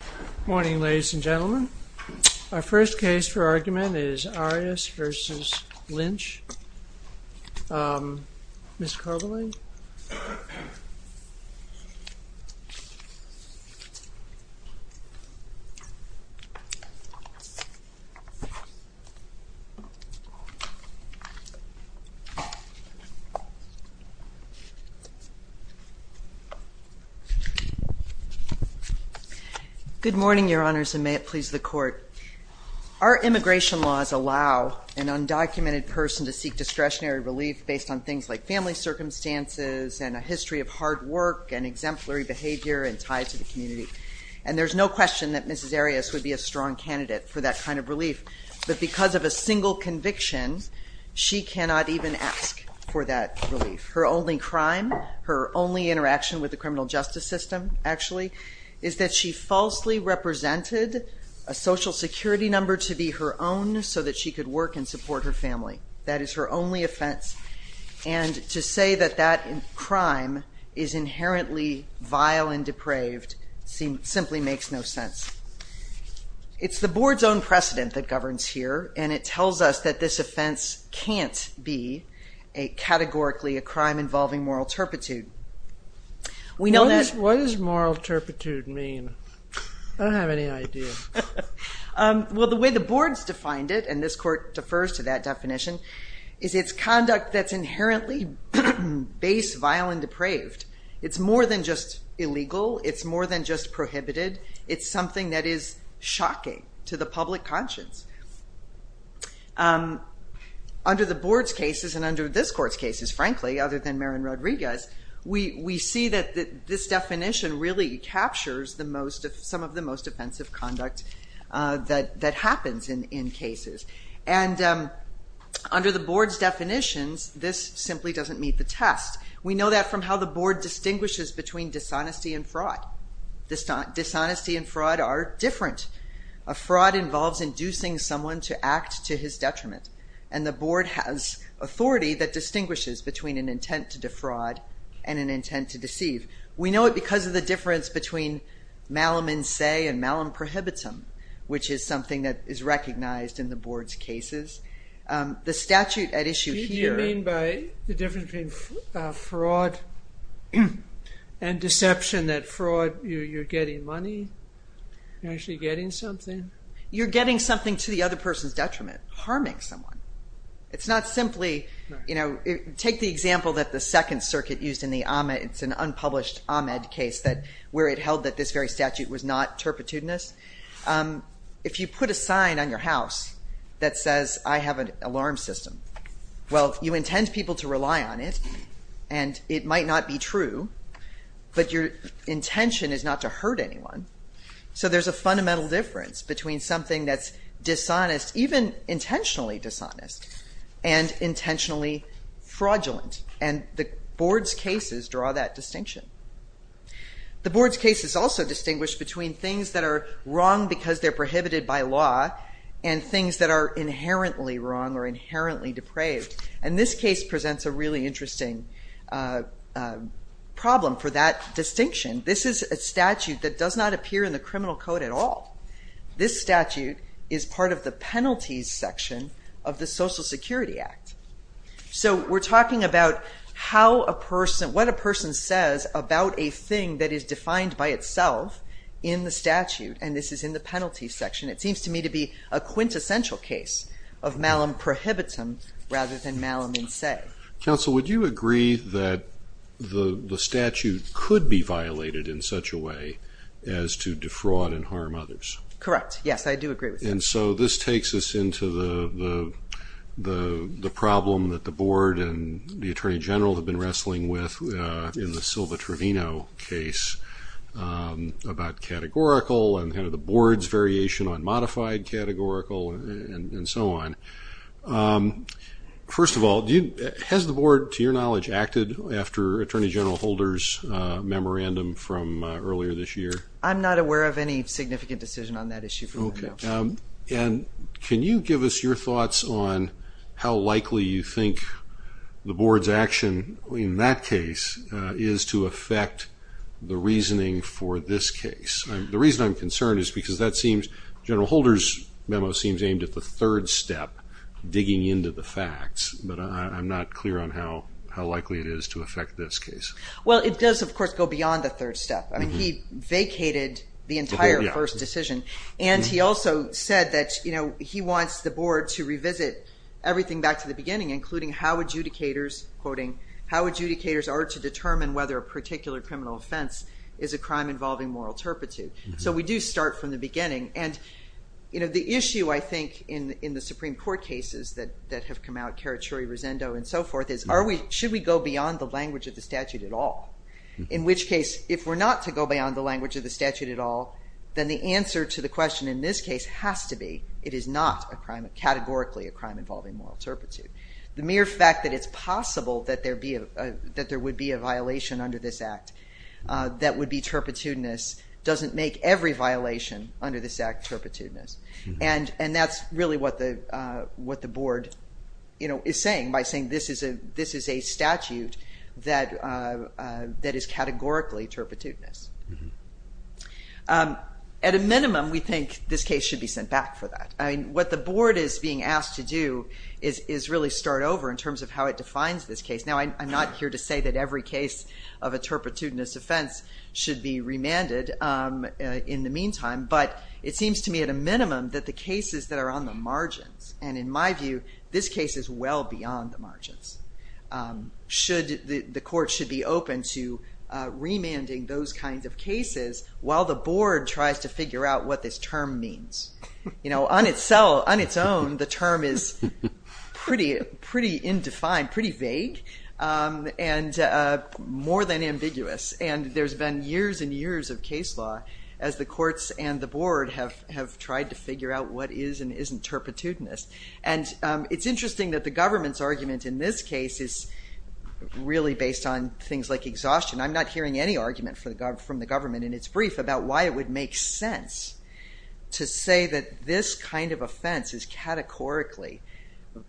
Good morning ladies and gentlemen. Our first case for argument is Arias v. Lynch. Ms. Carvalho? Good morning your honors and may it please the court. Our immigration laws allow an undocumented person to seek discretionary relief based on things like family circumstances and a history of hard work and exemplary behavior and ties to the community. And there's no question that Mrs. Arias would be a strong candidate for that kind of relief. But because of a single conviction, she cannot even ask for that relief. Her only crime, her only interaction with the criminal justice system actually, is that she falsely represented a social security number to be her own so that she could work and support her family. That is her only offense and to say that that crime is inherently vile and depraved simply makes no sense. It's the board's own precedent that governs here and it tells us that this offense can't be categorically a crime involving moral turpitude. What does moral turpitude mean? I don't have any idea. Well the way the board's defined it, and this court defers to that definition, is it's conduct that's inherently base, vile, and depraved. It's more than just illegal. It's more than just prohibited. It's something that is shocking to the public conscience. Under the board's cases and under this court's cases, frankly, other than Marin Rodriguez, we see that this definition really captures some of the most offensive conduct that happens in cases. And under the board's definitions, this simply doesn't meet the test. We know that from how the board distinguishes between dishonesty and fraud. Dishonesty and fraud are different. Fraud involves inducing someone to act to his detriment. And the board has authority that distinguishes between an intent to defraud and an intent to deceive. We know it because of the difference between malum in se and malum prohibitum, which is something that is recognized in the board's cases. The statute at issue here... Do you mean by the difference between fraud and deception that fraud, you're getting money, you're actually getting something? You're getting something to the other person's detriment, harming someone. It's not simply, you know, take the example that the Second Circuit used in the Ahmed, it's an unpublished Ahmed case where it held that this very statute was not turpitudinous. If you put a sign on your house that says, I have an alarm system, well, you intend people to rely on it, and it might not be true, but your intention is not to hurt anyone. So there's a fundamental difference between something that's dishonest, even intentionally dishonest, and intentionally fraudulent. And the board's cases draw that distinction. The board's case is also distinguished between things that are wrong because they're prohibited by law and things that are inherently wrong or inherently depraved. And this case presents a really interesting problem for that distinction. This is a statute that does not appear in the criminal code at all. This statute is part of the penalties section of the Social Security Act. So we're talking about how a person, what a person says about a thing that is defined by itself in the statute, and this is in the penalties section. It seems to me to be a quintessential case of malum prohibitum rather than malum in se. Counsel, would you agree that the statute could be violated in such a way as to defraud and harm others? Correct, yes, I do agree with that. And so this takes us into the problem that the board and the attorney general have been wrestling with in the Silva Trevino case about categorical and kind of the board's variation on modified categorical and so on. First of all, has the board, to your knowledge, acted after Attorney General Holder's memorandum from earlier this year? I'm not aware of any significant decision on that issue. And can you give us your thoughts on how likely you think the board's action in that case is to affect the reasoning for this case? The reason I'm concerned is because that seems, General Holder's memo seems aimed at the third step, digging into the facts, but I'm not clear on how likely it is to affect this case. Well, it does, of course, go beyond the third step. I mean, he vacated the entire first decision. And he also said that, you know, he wants the board to revisit everything back to the beginning, including how adjudicators, quoting, how adjudicators are to determine whether a particular criminal offense is a crime involving moral turpitude. So we do start from the beginning. And, you know, the issue, I think, in the Supreme Court cases that have come out, Carachuri-Rosendo and so forth, is should we go beyond the language of the statute at all? In which case, if we're not to go beyond the language of the statute at all, then the answer to the question in this case has to be it is not a crime, categorically a crime involving moral turpitude. The mere fact that it's possible that there would be a violation under this Act that would be turpitudinous doesn't make every violation under this Act turpitudinous. And that's really what the board, you know, is saying by saying this is a statute that is categorically turpitudinous. At a minimum, we think this case should be sent back for that. What the board is being asked to do is really start over in terms of how it defines this case. Now, I'm not here to say that every case of a turpitudinous offense should be remanded in the meantime. But it seems to me at a minimum that the cases that are on the margins, and in my view, this case is well beyond the margins, the court should be open to remanding those kinds of cases while the board tries to figure out what this term means. You know, on its own, the term is pretty indefined, pretty vague, and more than ambiguous. And there's been years and years of case law as the courts and the board have tried to figure out what is and isn't turpitudinous. And it's interesting that the government's argument in this case is really based on things like exhaustion. I'm not hearing any argument from the government in its brief about why it would make sense to say that this kind of offense is categorically,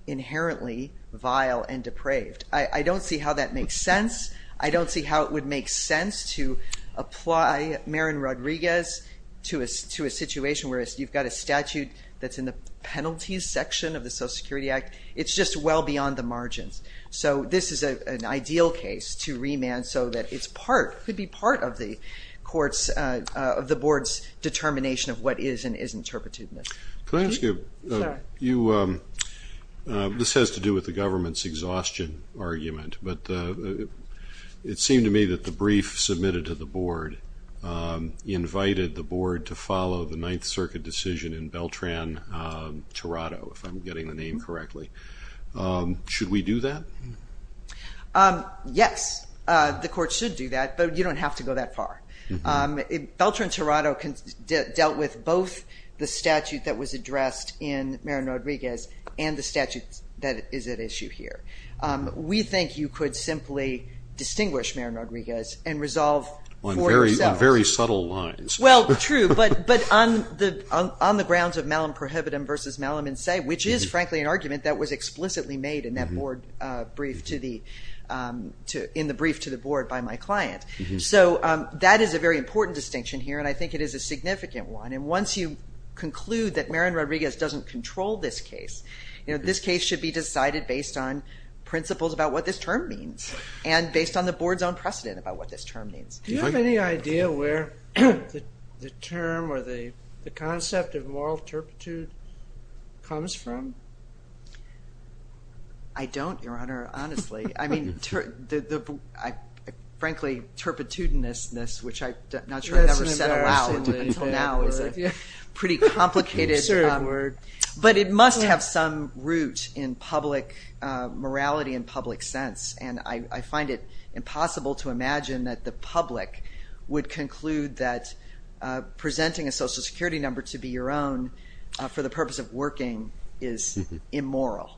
inherently vile and depraved. I don't see how that makes sense. I don't see how it would make sense to apply Marin Rodriguez to a situation where you've got a statute that's in the penalties section of the Social Security Act. It's just well beyond the margins. So this is an ideal case to remand so that it could be part of the board's determination of what is and isn't turpitudinous. Can I ask you, this has to do with the government's exhaustion argument, but it seemed to me that the brief submitted to the board invited the board to follow the Ninth Circuit decision in Beltran-Torado, if I'm getting the name correctly. Should we do that? Yes, the court should do that, but you don't have to go that far. Beltran-Torado dealt with both the statute that was addressed in Marin Rodriguez and the statute that is at issue here. We think you could simply distinguish Marin Rodriguez and resolve for yourself. On very subtle lines. Well, true, but on the grounds of malum prohibitum versus malum in se, which is, frankly, an argument that was explicitly made in the brief to the board by my client. So that is a very important distinction here, and I think it is a significant one. And once you conclude that Marin Rodriguez doesn't control this case, this case should be decided based on principles about what this term means and based on the board's own precedent about what this term means. Do you have any idea where the term or the concept of moral turpitude comes from? I don't, Your Honor, honestly. I mean, frankly, turpitudinousness, which I'm not sure I've ever said aloud until now, is a pretty complicated word. But it must have some root in public morality and public sense. And I find it impossible to imagine that the public would conclude that presenting a Social Security number to be your own for the purpose of working is immoral.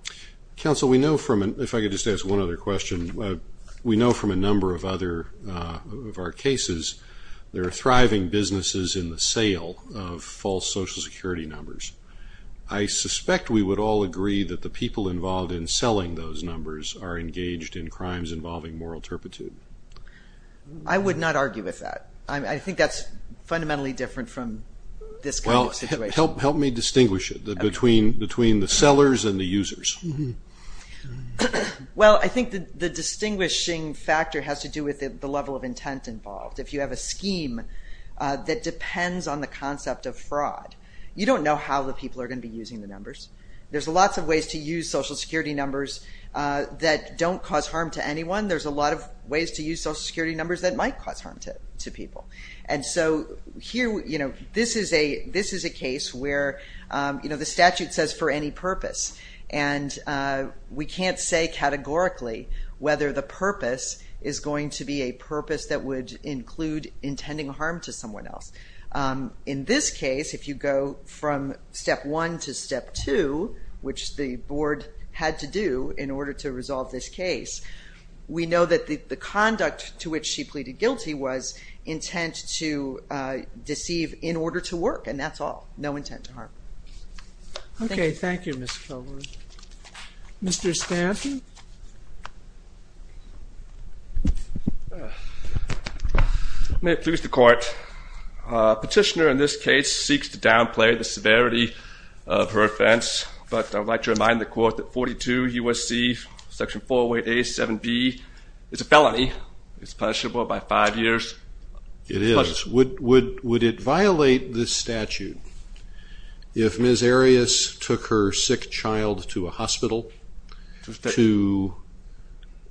Counsel, we know from, if I could just ask one other question, we know from a number of other of our cases there are thriving businesses in the sale of false Social Security numbers. I suspect we would all agree that the people involved in selling those numbers are engaged in crimes involving moral turpitude. I would not argue with that. I think that's fundamentally different from this kind of situation. Help me distinguish it between the sellers and the users. Well, I think the distinguishing factor has to do with the level of intent involved. If you have a scheme that depends on the concept of fraud, you don't know how the people are going to be using the numbers. There's lots of ways to use Social Security numbers that don't cause harm to anyone. There's a lot of ways to use Social Security numbers that might cause harm to people. This is a case where the statute says for any purpose. We can't say categorically whether the purpose is going to be a purpose that would include intending harm to someone else. In this case, if you go from step one to step two, which the board had to do in order to resolve this case, we know that the conduct to which she pleaded guilty was intent to deceive in order to work, and that's all. No intent to harm. Okay. Thank you, Ms. Kelley. Mr. Stanton. May it please the Court. Petitioner in this case seeks to downplay the severity of her offense, but I would like to remind the Court that 42 U.S.C. section 408A.7b is a felony. It's punishable by five years. It is. Would it violate this statute if Ms. Arias took her sick child to a hospital to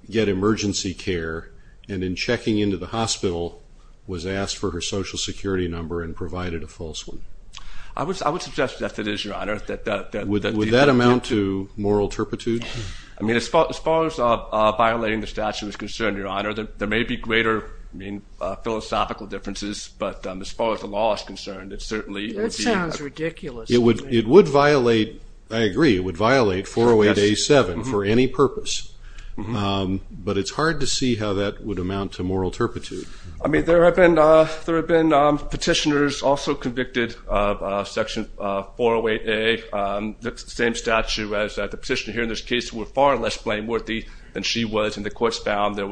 get emergency care and in checking into the hospital was asked for her Social Security number and provided a false one? I would suggest that it is, Your Honor. Would that amount to moral turpitude? I mean, as far as violating the statute is concerned, Your Honor, there may be greater philosophical differences, but as far as the law is concerned, it certainly would be. That sounds ridiculous. It would violate, I agree, it would violate 408A.7 for any purpose, but it's hard to see how that would amount to moral turpitude. I mean, there have been petitioners also convicted of section 408A, the same statute as the petitioner here in this case, who were far less blameworthy than she was, and the court found that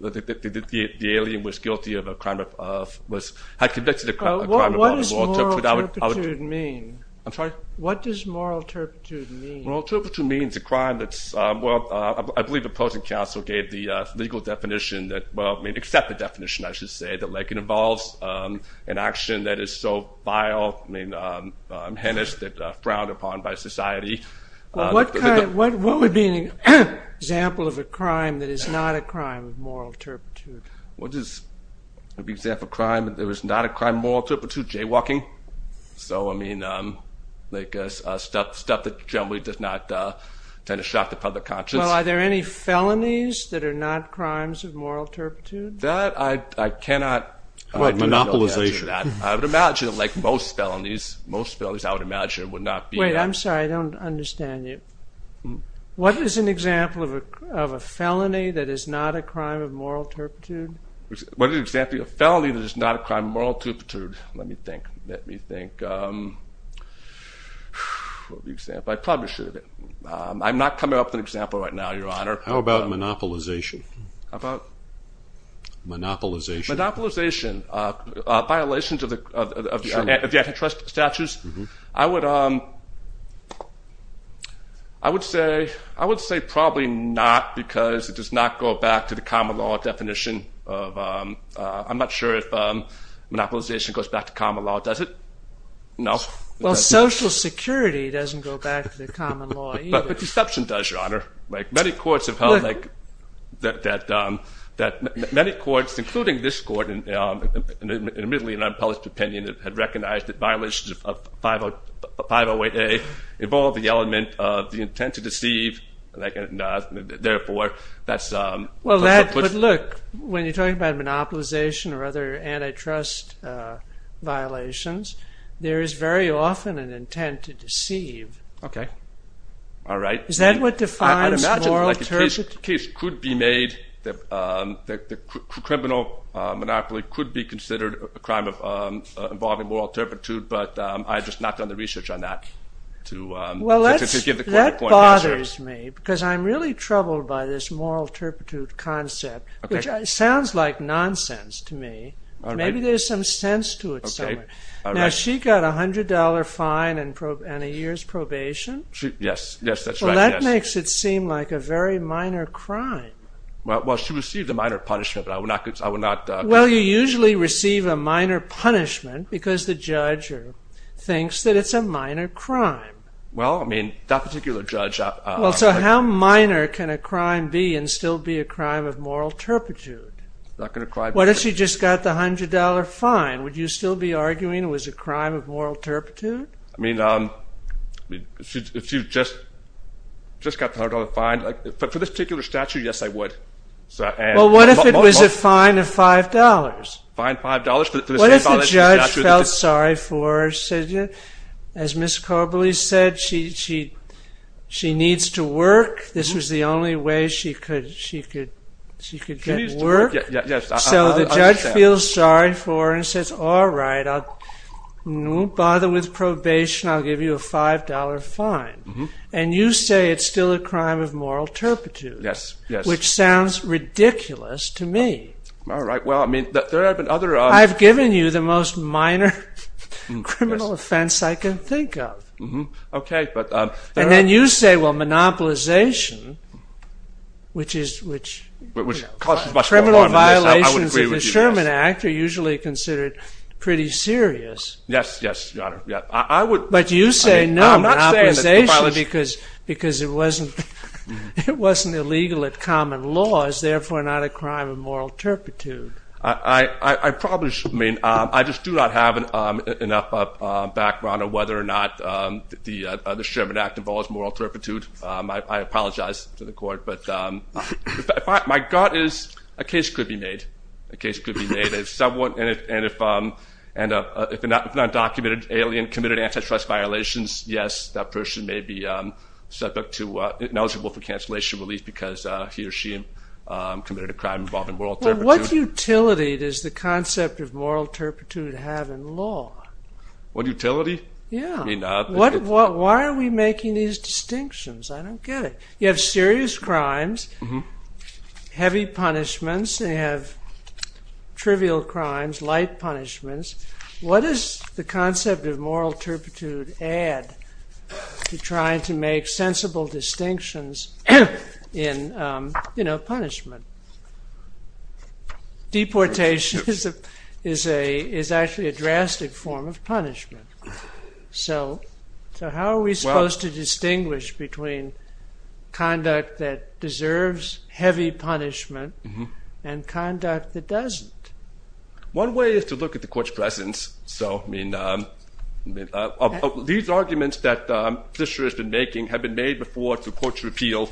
the alien was guilty of a crime of, had convicted a crime of moral turpitude. What does moral turpitude mean? I'm sorry? What does moral turpitude mean? Moral turpitude means a crime that's, well, I believe the opposing counsel gave the legal definition that, well, I mean, except the definition, I should say, that Lincoln involves an action that is so vile, I mean, heinous, that frowned upon by society. What would be an example of a crime that is not a crime of moral turpitude? What is an example of a crime that is not a crime of moral turpitude? Jaywalking. So, I mean, like stuff that generally does not tend to shock the public conscience. Well, are there any felonies that are not crimes of moral turpitude? That I cannot imagine. Monopolization. I would imagine, like most felonies, most felonies I would imagine would not be that. Wait, I'm sorry, I don't understand you. What is an example of a felony that is not a crime of moral turpitude? What is an example of a felony that is not a crime of moral turpitude? Let me think. Let me think. What would be an example? I probably should have been. I'm not coming up with an example right now, Your Honor. How about monopolization? How about? Monopolization. Monopolization. Violations of the antitrust statutes. I would say probably not because it does not go back to the common law definition. I'm not sure if monopolization goes back to common law. Does it? No. Well, Social Security doesn't go back to the common law either. But deception does, Your Honor. Many courts have held that many courts, including this court, admittedly in unpolished opinion, had recognized that violations of 508A involved the element of the intent to deceive. Therefore, that's... Well, look, when you're talking about monopolization or other antitrust violations, there is very often an intent to deceive. All right. Is that what defines moral turpitude? The case could be made. The criminal monopoly could be considered a crime involving moral turpitude, but I have just not done the research on that to give the correct answer. Well, that bothers me because I'm really troubled by this moral turpitude concept, which sounds like nonsense to me. Maybe there's some sense to it somewhere. Now, she got a $100 fine and a year's probation. Yes, that's right. Well, that makes it seem like a very minor crime. Well, she received a minor punishment, but I would not... Well, you usually receive a minor punishment because the judge thinks that it's a minor crime. Well, I mean, that particular judge... Well, so how minor can a crime be and still be a crime of moral turpitude? It's not going to... What if she just got the $100 fine? Would you still be arguing it was a crime of moral turpitude? I mean, if she just got the $100 fine... For this particular statute, yes, I would. Well, what if it was a fine of $5? Fine of $5 for the same violation of the statute. What if the judge felt sorry for her, said, as Ms. Koberly said, she needs to work. This was the only way she could get work. She needs to work, yes. So the judge feels sorry for her and says, all right, I won't bother with probation. I'll give you a $5 fine. And you say it's still a crime of moral turpitude. Yes, yes. Which sounds ridiculous to me. All right, well, I mean, there have been other... I've given you the most minor criminal offense I can think of. Okay, but... And then you say, well, monopolization, which is... Which causes much more harm than this. Criminal violations of the Sherman Act are usually considered pretty serious. Yes, yes, Your Honor. I would... But you say no to monopolization. I'm not saying that. Because it wasn't illegal at common law. It's therefore not a crime of moral turpitude. I probably mean... I just do not have enough background on whether or not the Sherman Act involves moral turpitude. I apologize to the Court. But my gut is a case could be made. And if an undocumented alien committed antitrust violations, yes, that person may be eligible for cancellation relief because he or she committed a crime involving moral turpitude. Well, what utility does the concept of moral turpitude have in law? What utility? Yeah. I mean... Why are we making these distinctions? I don't get it. You have serious crimes, heavy punishments. You have trivial crimes, light punishments. What does the concept of moral turpitude add to trying to make sensible distinctions in punishment? Deportation is actually a drastic form of punishment. So how are we supposed to distinguish between conduct that deserves heavy punishment and conduct that doesn't? One way is to look at the Court's presence. These arguments that Fisher has been making have been made before to the Court's repeal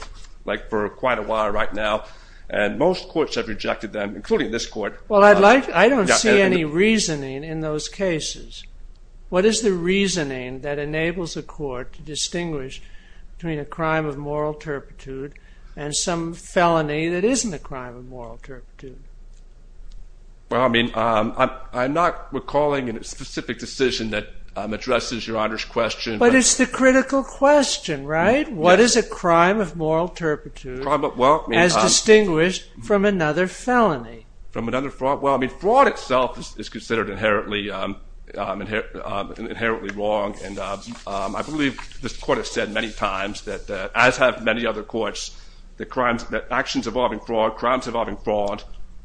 for quite a while right now. And most courts have rejected them, including this Court. Well, I don't see any reasoning in those cases. What is the reasoning that enables the Court to distinguish between a crime of moral turpitude and some felony that isn't a crime of moral turpitude? Well, I mean, I'm not recalling a specific decision that addresses Your Honor's question. But it's the critical question, right? What is a crime of moral turpitude as distinguished from another felony? From another fraud? Well, I mean, fraud itself is considered inherently wrong. And I believe this Court has said many times that, as have many other courts, that actions involving fraud, crimes involving fraud,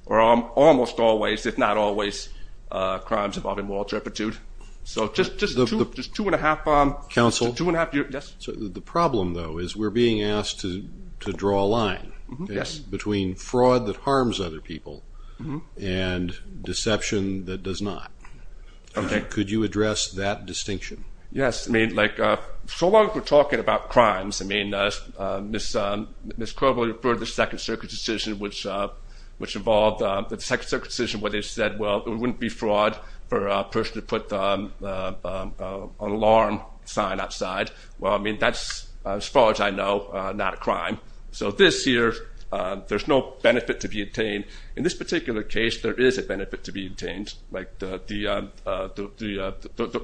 are almost always, if not always, crimes involving moral turpitude. So just two and a half... Counsel? Yes? The problem, though, is we're being asked to draw a line between fraud that harms other people and deception that does not. Okay. And could you address that distinction? Yes. I mean, like, so long as we're talking about crimes, I mean, Ms. Crowley referred to the Second Circuit decision, which involved the Second Circuit decision where they said, well, it wouldn't be fraud for a person to put an alarm sign outside. Well, I mean, that's, as far as I know, not a crime. So this here, there's no benefit to be obtained. In this particular case, there is a benefit to be obtained. Like, the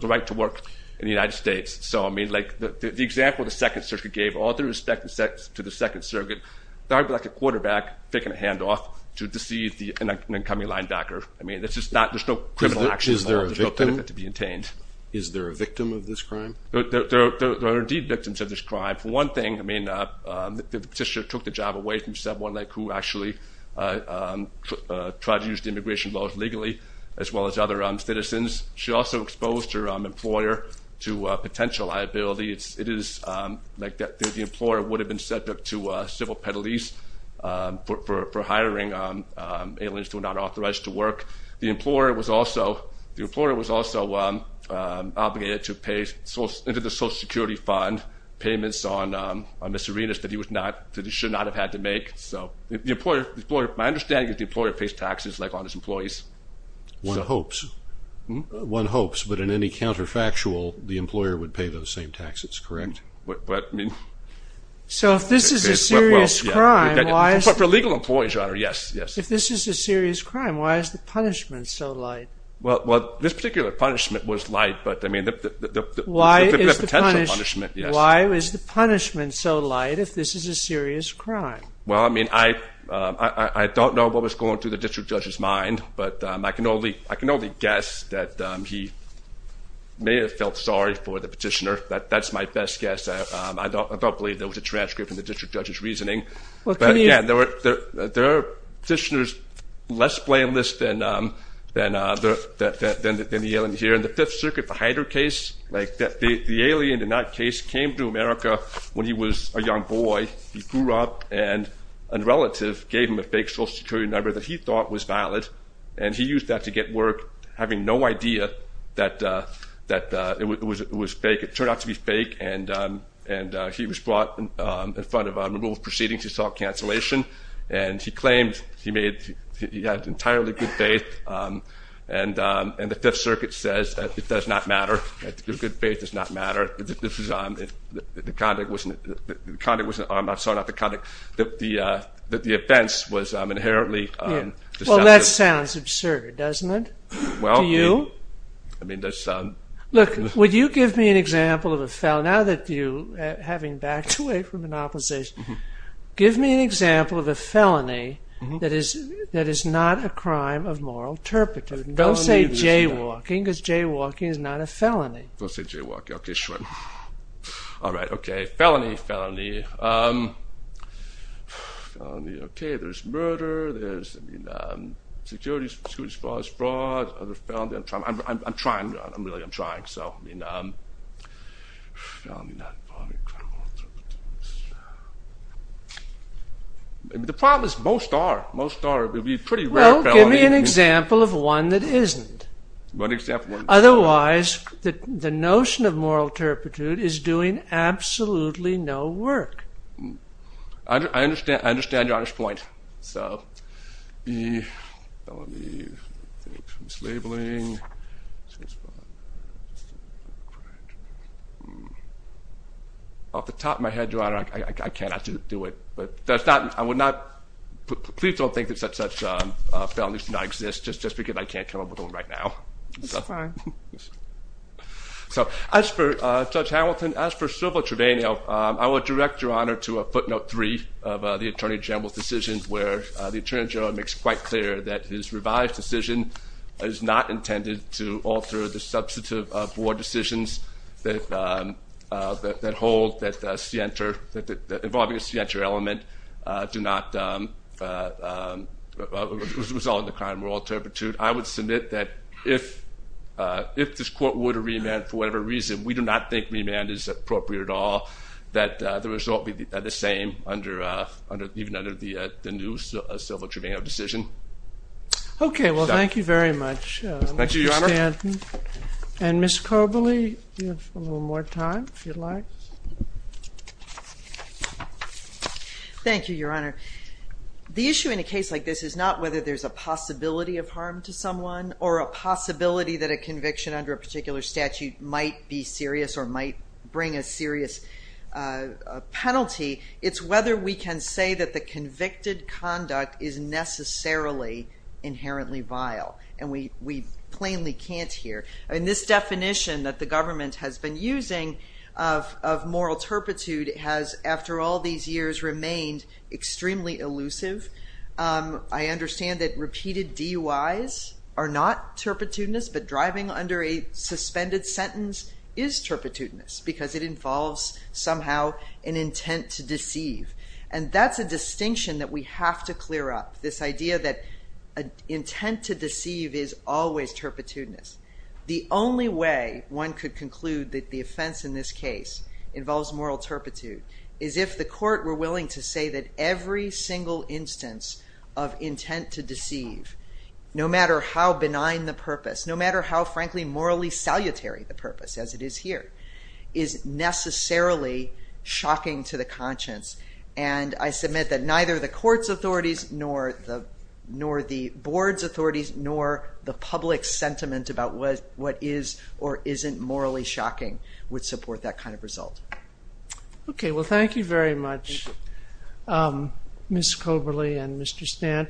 right to work in the United States. So, I mean, like, the example the Second Circuit gave, all due respect to the Second Circuit, that would be like a quarterback taking a handoff to deceive an incoming linebacker. I mean, there's no criminal action involved. Is there a victim? There's no benefit to be obtained. Is there a victim of this crime? There are indeed victims of this crime. For one thing, I mean, the petitioner took the job away from someone who actually tried to use the immigration laws legally, as well as other citizens. She also exposed her employer to potential liability. It is like the employer would have been subject to civil penalties for hiring aliens who are not authorized to work. The employer was also obligated to pay into the Social Security Fund payments on miscellaneous that he should not have had to make. So my understanding is the employer pays taxes, like on his employees. One hopes. One hopes, but in any counterfactual, the employer would pay those same taxes, correct? But, I mean... So if this is a serious crime, why... For legal employees, Your Honor, yes, yes. If this is a serious crime, why is the punishment so light? Well, this particular punishment was light, but, I mean, the potential punishment, yes. Why is the punishment so light if this is a serious crime? Well, I mean, I don't know what was going through the district judge's mind, but I can only guess that he may have felt sorry for the petitioner. That's my best guess. I don't believe there was a transcript in the district judge's reasoning. But, yeah, there are petitioners less blameless than the alien here. In the Fifth Circuit, the Hyder case, the alien in that case came to America when he was a young boy. He grew up, and a relative gave him a fake Social Security number that he thought was valid, and he used that to get work, having no idea that it was fake. It turned out to be fake, and he was brought in front of a removal proceeding to assault cancellation, and he claimed he had entirely good faith, and the Fifth Circuit says it does not matter. Good faith does not matter. The conduct wasn't... I'm sorry, not the conduct. The offense was inherently... Well, that sounds absurd, doesn't it, to you? I mean, that sounds... Look, would you give me an example of a... Now that you, having backed away from an opposition, give me an example of a felony that is not a crime of moral turpitude. Don't say jaywalking, because jaywalking is not a felony. Don't say jaywalking, okay, sure. All right, okay, felony, felony. Felony, okay, there's murder, there's securities fraud, other felonies. I'm trying, really, I'm trying, so... The problem is most are. Well, give me an example of one that isn't. Otherwise, the notion of moral turpitude is doing absolutely no work. I understand your honest point, so... E, felony, I think, mislabeling... Off the top of my head, Your Honor, I cannot do it. But that's not, I would not... Please don't think that such felonies do not exist, just because I can't come up with one right now. That's fine. So as for Judge Hamilton, as for Silver Trevino, I will direct Your Honor to a footnote 3 of the Attorney General's decision, where the Attorney General makes it quite clear that his revised decision is not intended to alter the substantive board decisions that hold that involving a scienter element do not result in the crime of moral turpitude. I would submit that if this court were to remand, for whatever reason, we do not think remand is appropriate at all, that the result would be the same even under the new Silver Trevino decision. Okay, well, thank you very much, Mr. Stanton. Thank you, Your Honor. And Ms. Koberly, you have a little more time, if you'd like. Thank you, Your Honor. The issue in a case like this is not whether there's a possibility of harm to someone or a possibility that a conviction under a particular statute might be serious or might bring a serious penalty. It's whether we can say that the convicted conduct is necessarily inherently vile, and we plainly can't here. And this definition that the government has been using of moral turpitude has, after all these years, remained extremely elusive. I understand that repeated DUIs are not turpitudinous, but driving under a suspended sentence is turpitudinous because it involves somehow an intent to deceive. And that's a distinction that we have to clear up, this idea that intent to deceive is always turpitudinous. The only way one could conclude that the offense in this case involves moral turpitude is if the court were willing to say that every single instance of intent to deceive, no matter how benign the purpose, no matter how, frankly, morally salutary the purpose, as it is here, is necessarily shocking to the conscience. And I submit that neither the court's authorities nor the board's authorities nor the public sentiment about what is or isn't morally shocking would support that kind of result. Okay, well, thank you very much, Ms. Coberly and Mr. Stanton.